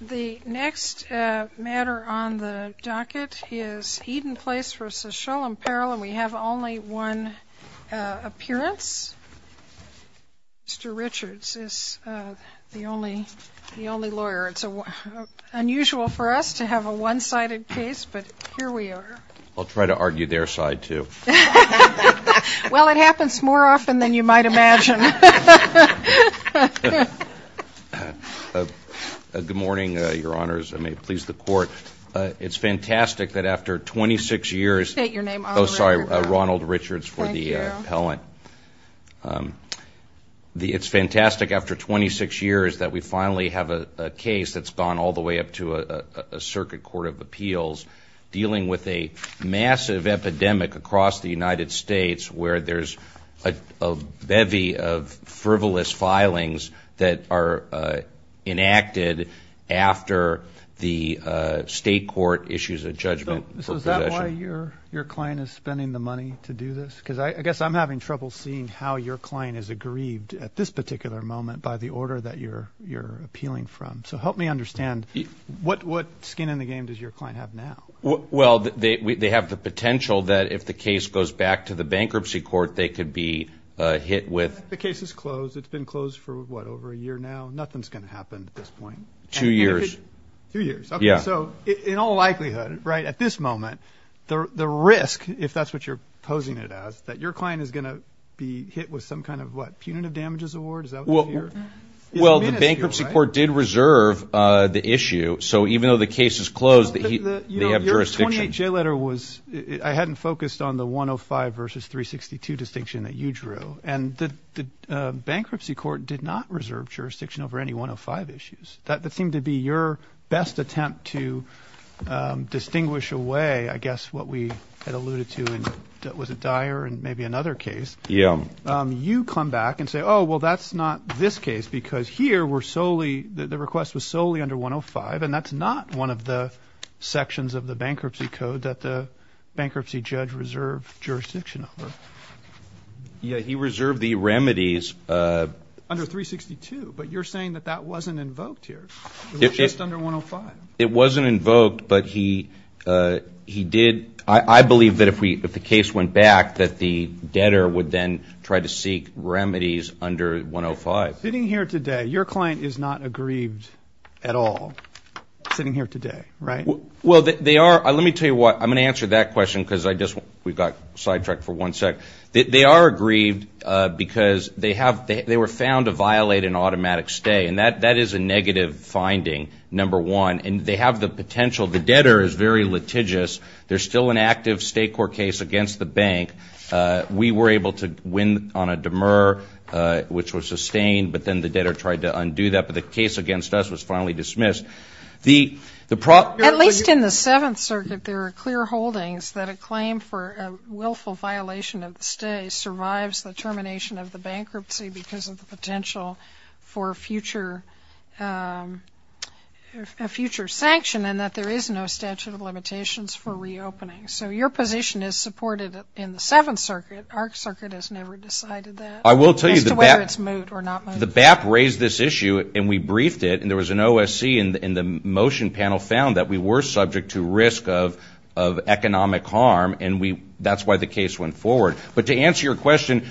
The next matter on the docket is Eden Place v. Sholem Perl, and we have only one appearance. Mr. Richards is the only lawyer. It's unusual for us to have a one-sided case, but here we are. I'll try to argue their side, too. Well, it happens more often than you might imagine. Good morning, Your Honors. I may please the Court. It's fantastic that after 26 years – State your name. Oh, sorry. Ronald Richards for the appellant. Thank you. It's fantastic after 26 years that we finally have a case that's gone all the way up to a circuit court of appeals dealing with a massive epidemic across the United States where there's a bevy of frivolous filings that are enacted after the state court issues a judgment for possession. So is that why your client is spending the money to do this? Because I guess I'm having trouble seeing how your client is aggrieved at this particular moment by the order that you're appealing from. So help me understand. What skin in the game does your client have now? Well, they have the potential that if the case goes back to the bankruptcy court, they could be hit with – The case is closed. It's been closed for, what, over a year now? Nothing's going to happen at this point. Two years. Two years. Okay. So in all likelihood, right, at this moment, the risk, if that's what you're posing it as, that your client is going to be hit with some kind of, what, punitive damages award? Well, the bankruptcy court did reserve the issue. So even though the case is closed, they have jurisdiction. Your 28-J letter was – I hadn't focused on the 105 versus 362 distinction that you drew. And the bankruptcy court did not reserve jurisdiction over any 105 issues. That seemed to be your best attempt to distinguish away, I guess, what we had alluded to in – was it Dyer and maybe another case? Yeah. You come back and say, oh, well, that's not this case because here we're solely – the request was solely under 105, and that's not one of the sections of the bankruptcy code that the bankruptcy judge reserved jurisdiction over. Yeah, he reserved the remedies. Under 362, but you're saying that that wasn't invoked here. It was just under 105. It wasn't invoked, but he did – I believe that if the case went back, that the debtor would then try to seek remedies under 105. Sitting here today, your client is not aggrieved at all sitting here today, right? Well, they are – let me tell you why. I'm going to answer that question because I just – we've got sidetracked for one sec. They are aggrieved because they have – they were found to violate an automatic stay, and that is a negative finding, number one. And they have the potential – the debtor is very litigious. There's still an active state court case against the bank. We were able to win on a demur, which was sustained, but then the debtor tried to undo that. But the case against us was finally dismissed. The – the – At least in the Seventh Circuit, there are clear holdings that a claim for a willful violation of the stay survives the termination of the bankruptcy because of the potential for a future – a future sanction and that there is no statute of limitations for reopening. So your position is supported in the Seventh Circuit. Our circuit has never decided that. I will tell you the – As to whether it's moot or not moot. The BAP raised this issue, and we briefed it, and there was an OSC, and the motion panel found that we were subject to risk of economic harm, and we – that's why the case went forward. But to answer your question,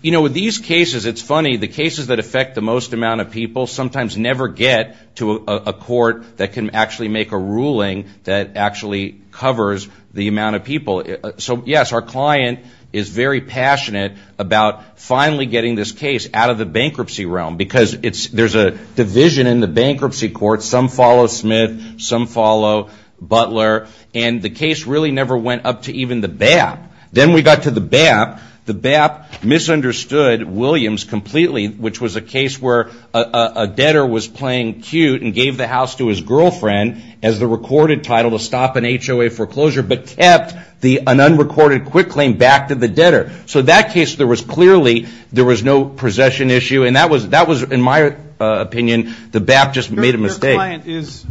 you know, with these cases, it's funny, the cases that affect the most amount of people sometimes never get to a court that can actually make a ruling that actually covers the amount of people. So, yes, our client is very passionate about finally getting this case out of the bankruptcy realm because it's – there's a division in the bankruptcy court. Some follow Smith. Some follow Butler. And the case really never went up to even the BAP. Then we got to the BAP. The BAP misunderstood Williams completely, which was a case where a debtor was playing cute and gave the house to his girlfriend as the recorded title to stop an HOA foreclosure but kept an unrecorded quick claim back to the debtor. So that case, there was clearly – there was no possession issue, and that was, in my opinion, the BAP just made a mistake. Your client is,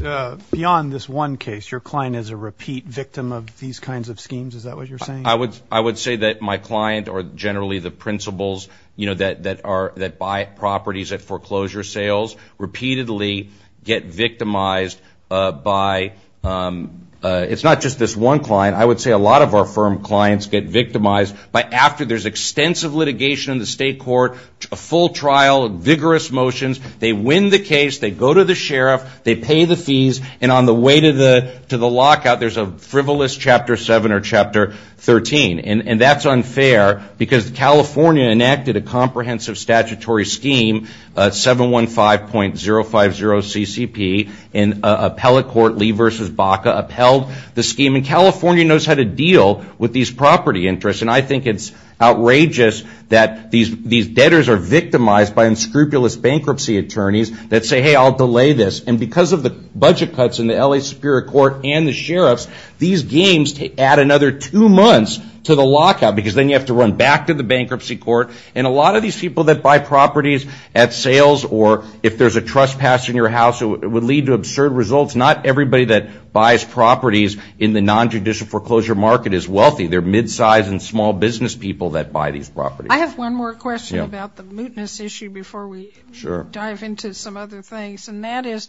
beyond this one case, your client is a repeat victim of these kinds of schemes. Is that what you're saying? I would say that my client or generally the principals, you know, that buy properties at foreclosure sales repeatedly get victimized by – it's not just this one client. I would say a lot of our firm clients get victimized by after there's extensive litigation in the state court, a full trial, vigorous motions. They win the case. They go to the sheriff. They pay the fees. And on the way to the lockout, there's a frivolous Chapter 7 or Chapter 13. And that's unfair because California enacted a comprehensive statutory scheme, 715.050 CCP, and appellate court Lee v. Baca upheld the scheme. And California knows how to deal with these property interests. And I think it's outrageous that these debtors are victimized by unscrupulous bankruptcy attorneys that say, hey, I'll delay this. And because of the budget cuts in the L.A. Superior Court and the sheriffs, these games add another two months to the lockout because then you have to run back to the bankruptcy court. And a lot of these people that buy properties at sales or if there's a trespass in your house, it would lead to absurd results. Not everybody that buys properties in the nonjudicial foreclosure market is wealthy. They're midsize and small business people that buy these properties. I have one more question about the mootness issue before we dive into some other things. And that is,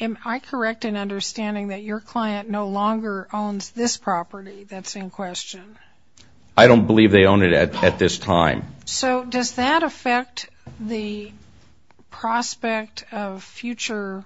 am I correct in understanding that your client no longer owns this property that's in question? I don't believe they own it at this time. So does that affect the prospect of future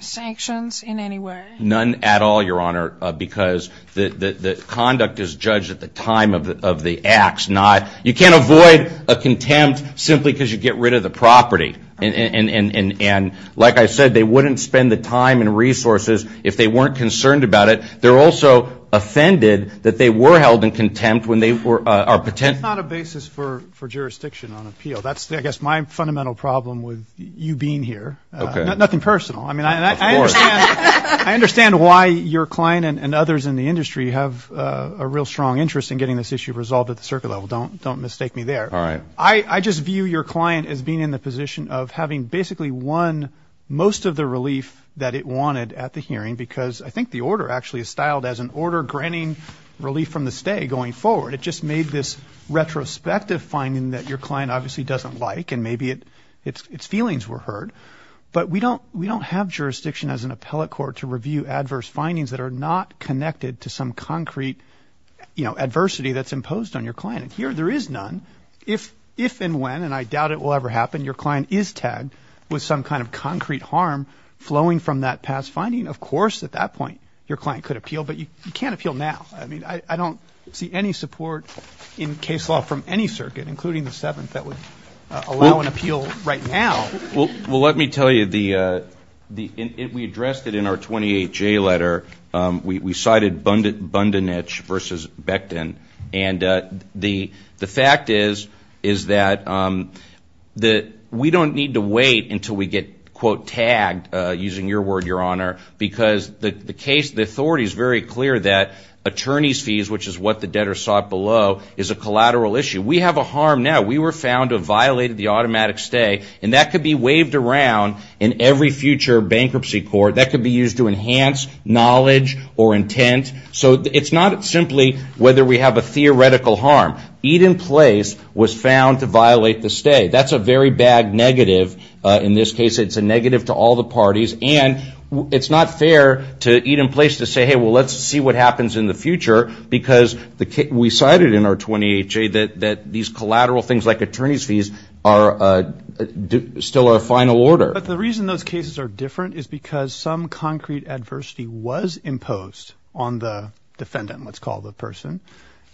sanctions in any way? None at all, Your Honor, because the conduct is judged at the time of the acts. You can't avoid a contempt simply because you get rid of the property. And like I said, they wouldn't spend the time and resources if they weren't concerned about it. They're also offended that they were held in contempt when they were or potentially. That's not a basis for jurisdiction on appeal. That's, I guess, my fundamental problem with you being here. Nothing personal. I mean, I understand why your client and others in the industry have a real strong interest in getting this issue resolved at the circuit level. Don't mistake me there. All right. I just view your client as being in the position of having basically won most of the relief that it wanted at the hearing because I think the order actually is styled as an order granting relief from the stay going forward. It just made this retrospective finding that your client obviously doesn't like and maybe its feelings were heard. But we don't have jurisdiction as an appellate court to review adverse findings that are not connected to some concrete, you know, adversity that's imposed on your client. Here there is none. If and when, and I doubt it will ever happen, your client is tagged with some kind of concrete harm flowing from that past finding, of course at that point your client could appeal, but you can't appeal now. I mean, I don't see any support in case law from any circuit, including the seventh, that would allow an appeal right now. Well, let me tell you, we addressed it in our 28-J letter. We cited Bundanich versus Becton. And the fact is that we don't need to wait until we get, quote, tagged, using your word, Your Honor, because the authority is very clear that attorney's fees, which is what the debtor sought below, is a collateral issue. We have a harm now. We were found to have violated the automatic stay, and that could be waved around in every future bankruptcy court. That could be used to enhance knowledge or intent. So it's not simply whether we have a theoretical harm. Eat in place was found to violate the stay. That's a very bad negative in this case. It's a negative to all the parties. And it's not fair to eat in place to say, hey, well, let's see what happens in the future, because we cited in our 28-J that these collateral things like attorney's fees are still a final order. But the reason those cases are different is because some concrete adversity was imposed on the defendant, let's call the person.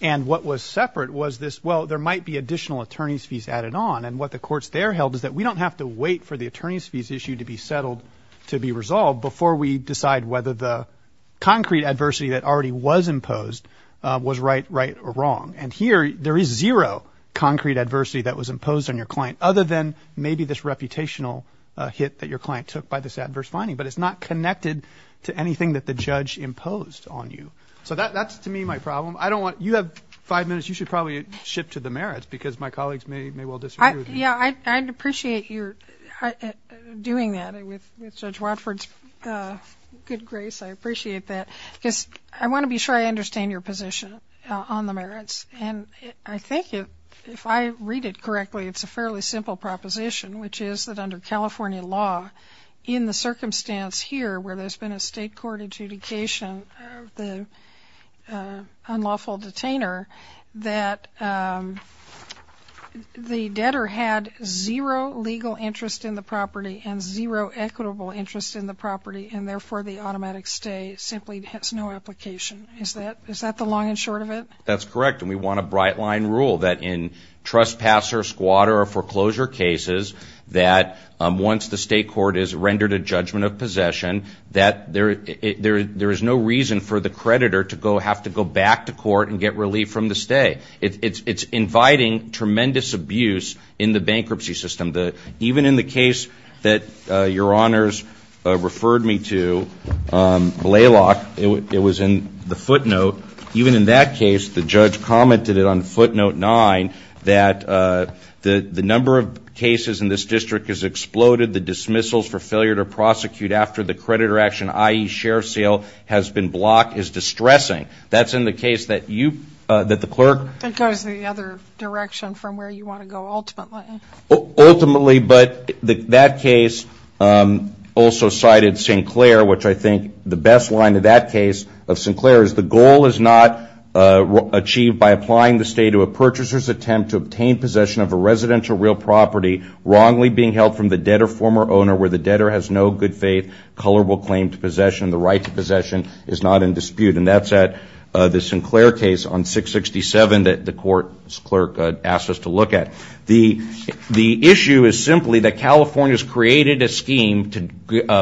And what was separate was this, well, there might be additional attorney's fees added on. And what the courts there held is that we don't have to wait for the attorney's fees issue to be settled, to be resolved before we decide whether the concrete adversity that already was imposed was right, right, or wrong. And here there is zero concrete adversity that was imposed on your client, other than maybe this reputational hit that your client took by this adverse finding. But it's not connected to anything that the judge imposed on you. So that's, to me, my problem. You have five minutes. You should probably shift to the merits, because my colleagues may well disagree with me. Yeah, I'd appreciate your doing that with Judge Watford's good grace. I appreciate that. Because I want to be sure I understand your position on the merits. And I think if I read it correctly, it's a fairly simple proposition, which is that under California law, in the circumstance here where there's been a state court adjudication of the unlawful detainer, that the debtor had zero legal interest in the property and zero equitable interest in the property, and therefore the automatic stay simply has no application. Is that the long and short of it? That's correct. And we want a bright-line rule that in trespasser, squatter, or foreclosure cases, that once the state court has rendered a judgment of possession, that there is no reason for the creditor to have to go back to court and get relief from the stay. It's inviting tremendous abuse in the bankruptcy system. Even in the case that Your Honors referred me to, Blalock, it was in the footnote. Even in that case, the judge commented it on footnote nine, that the number of cases in this district has exploded. The dismissals for failure to prosecute after the creditor action, i.e. share sale, has been blocked is distressing. That's in the case that you, that the clerk. That goes the other direction from where you want to go ultimately. Ultimately, but that case also cited Sinclair, which I think the best line in that case of Sinclair is the goal is not achieved by applying the stay to a purchaser's attempt to obtain possession of a residential real property wrongly being held from the debtor, former owner where the debtor has no good faith, colorable claim to possession, and the right to possession is not in dispute. And that's at the Sinclair case on 667 that the court clerk asked us to look at. The issue is simply that California's created a scheme to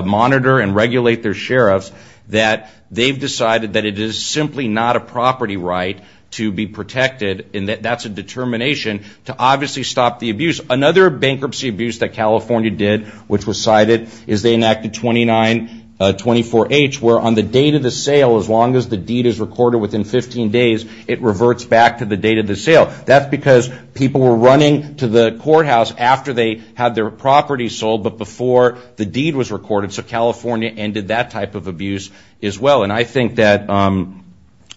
monitor and regulate their sheriffs that they've decided that it is simply not a property right to be protected and that that's a determination to obviously stop the abuse. Another bankruptcy abuse that California did which was cited is they enacted 2924H where on the date of the sale, as long as the deed is recorded within 15 days, it reverts back to the date of the sale. That's because people were running to the courthouse after they had their property sold but before the deed was recorded. So California ended that type of abuse as well. And I think that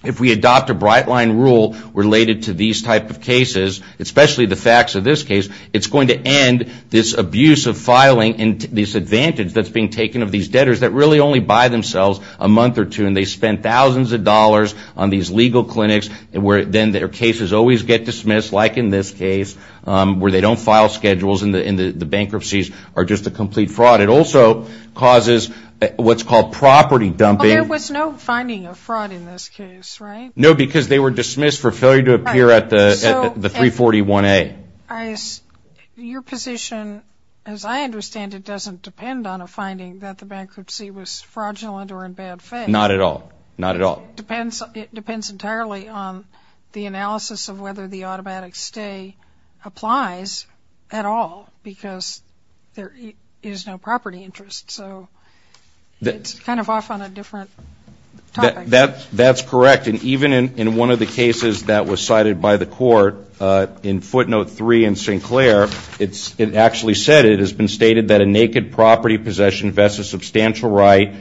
if we adopt a bright line rule related to these type of cases, especially the facts of this case, it's going to end this abuse of filing and this advantage that's being taken of these debtors that really only buy themselves a month or two and they spend thousands of dollars on these legal clinics where then their cases always get dismissed like in this case where they don't file schedules and the bankruptcies are just a complete fraud. It also causes what's called property dumping. There was no finding of fraud in this case, right? No, because they were dismissed for failure to appear at the 341A. Your position, as I understand it, doesn't depend on a finding that the bankruptcy was fraudulent or in bad faith. Not at all. Not at all. It depends entirely on the analysis of whether the automatic stay applies at all because there is no property interest. So it's kind of off on a different topic. That's correct. And even in one of the cases that was cited by the court in footnote 3 in Sinclair, it actually said it has been stated that a naked property possession vests a substantial right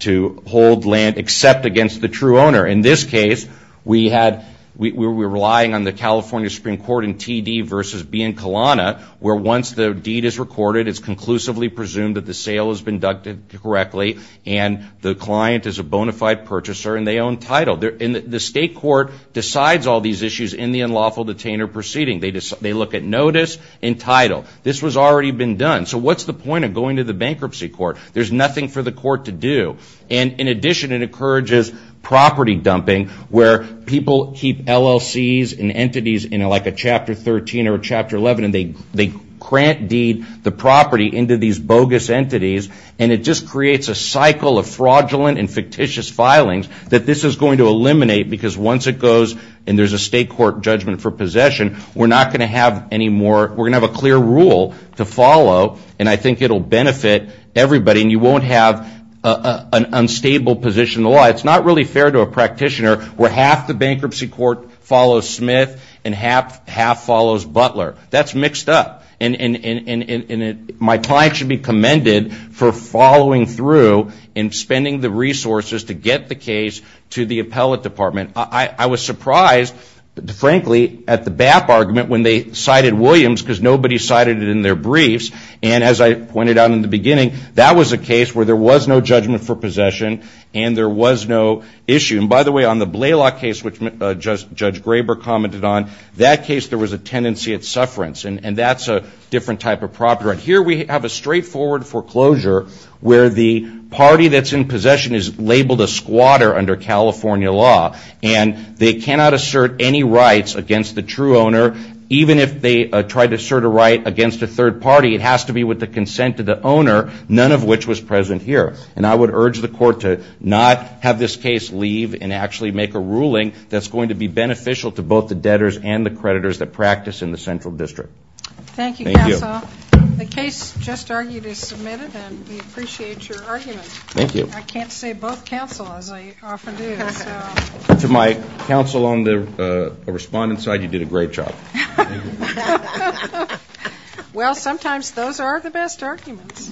to hold land except against the true owner. In this case, we had, we were relying on the California Supreme Court in T.D. versus Biancalana where once the deed is recorded, it's conclusively presumed that the sale has been conducted correctly and the client is a bona fide purchaser and they own title. The state court decides all these issues in the unlawful detainer proceeding. They look at notice and title. This was already been done. So what's the point of going to the bankruptcy court? There's nothing for the court to do. And in addition, it encourages property dumping where people keep LLCs and entities in like a Chapter 13 or a Chapter 11 and they grant deed the property into these bogus entities and it just creates a cycle of fraudulent and fictitious filings that this is going to eliminate because once it goes and there's a state court judgment for possession, we're not going to have any more, we're going to have a clear rule to follow and I think it will benefit everybody and you won't have an unstable position in the law. It's not really fair to a practitioner where half the bankruptcy court follows Smith and half follows Butler. That's mixed up. And my client should be commended for following through and spending the resources to get the case to the appellate department. I was surprised, frankly, at the BAP argument when they cited Williams because nobody cited it in their briefs and as I pointed out in the beginning, that was a case where there was no judgment for possession and there was no issue. And by the way, on the Blalock case which Judge Graber commented on, that case there was a tendency at sufferance and that's a different type of property. Here we have a straightforward foreclosure where the party that's in possession is labeled a squatter under California law and they cannot assert any rights against the true owner even if they try to assert a right against a third party. It has to be with the consent of the owner, none of which was present here. And I would urge the court to not have this case leave and actually make a ruling that's going to be beneficial to both the debtors and the creditors that practice in the central district. Thank you, Counsel. The case just argued is submitted and we appreciate your argument. Thank you. I can't say both counsel as I often do. To my counsel on the respondent side, you did a great job. Well, sometimes those are the best arguments.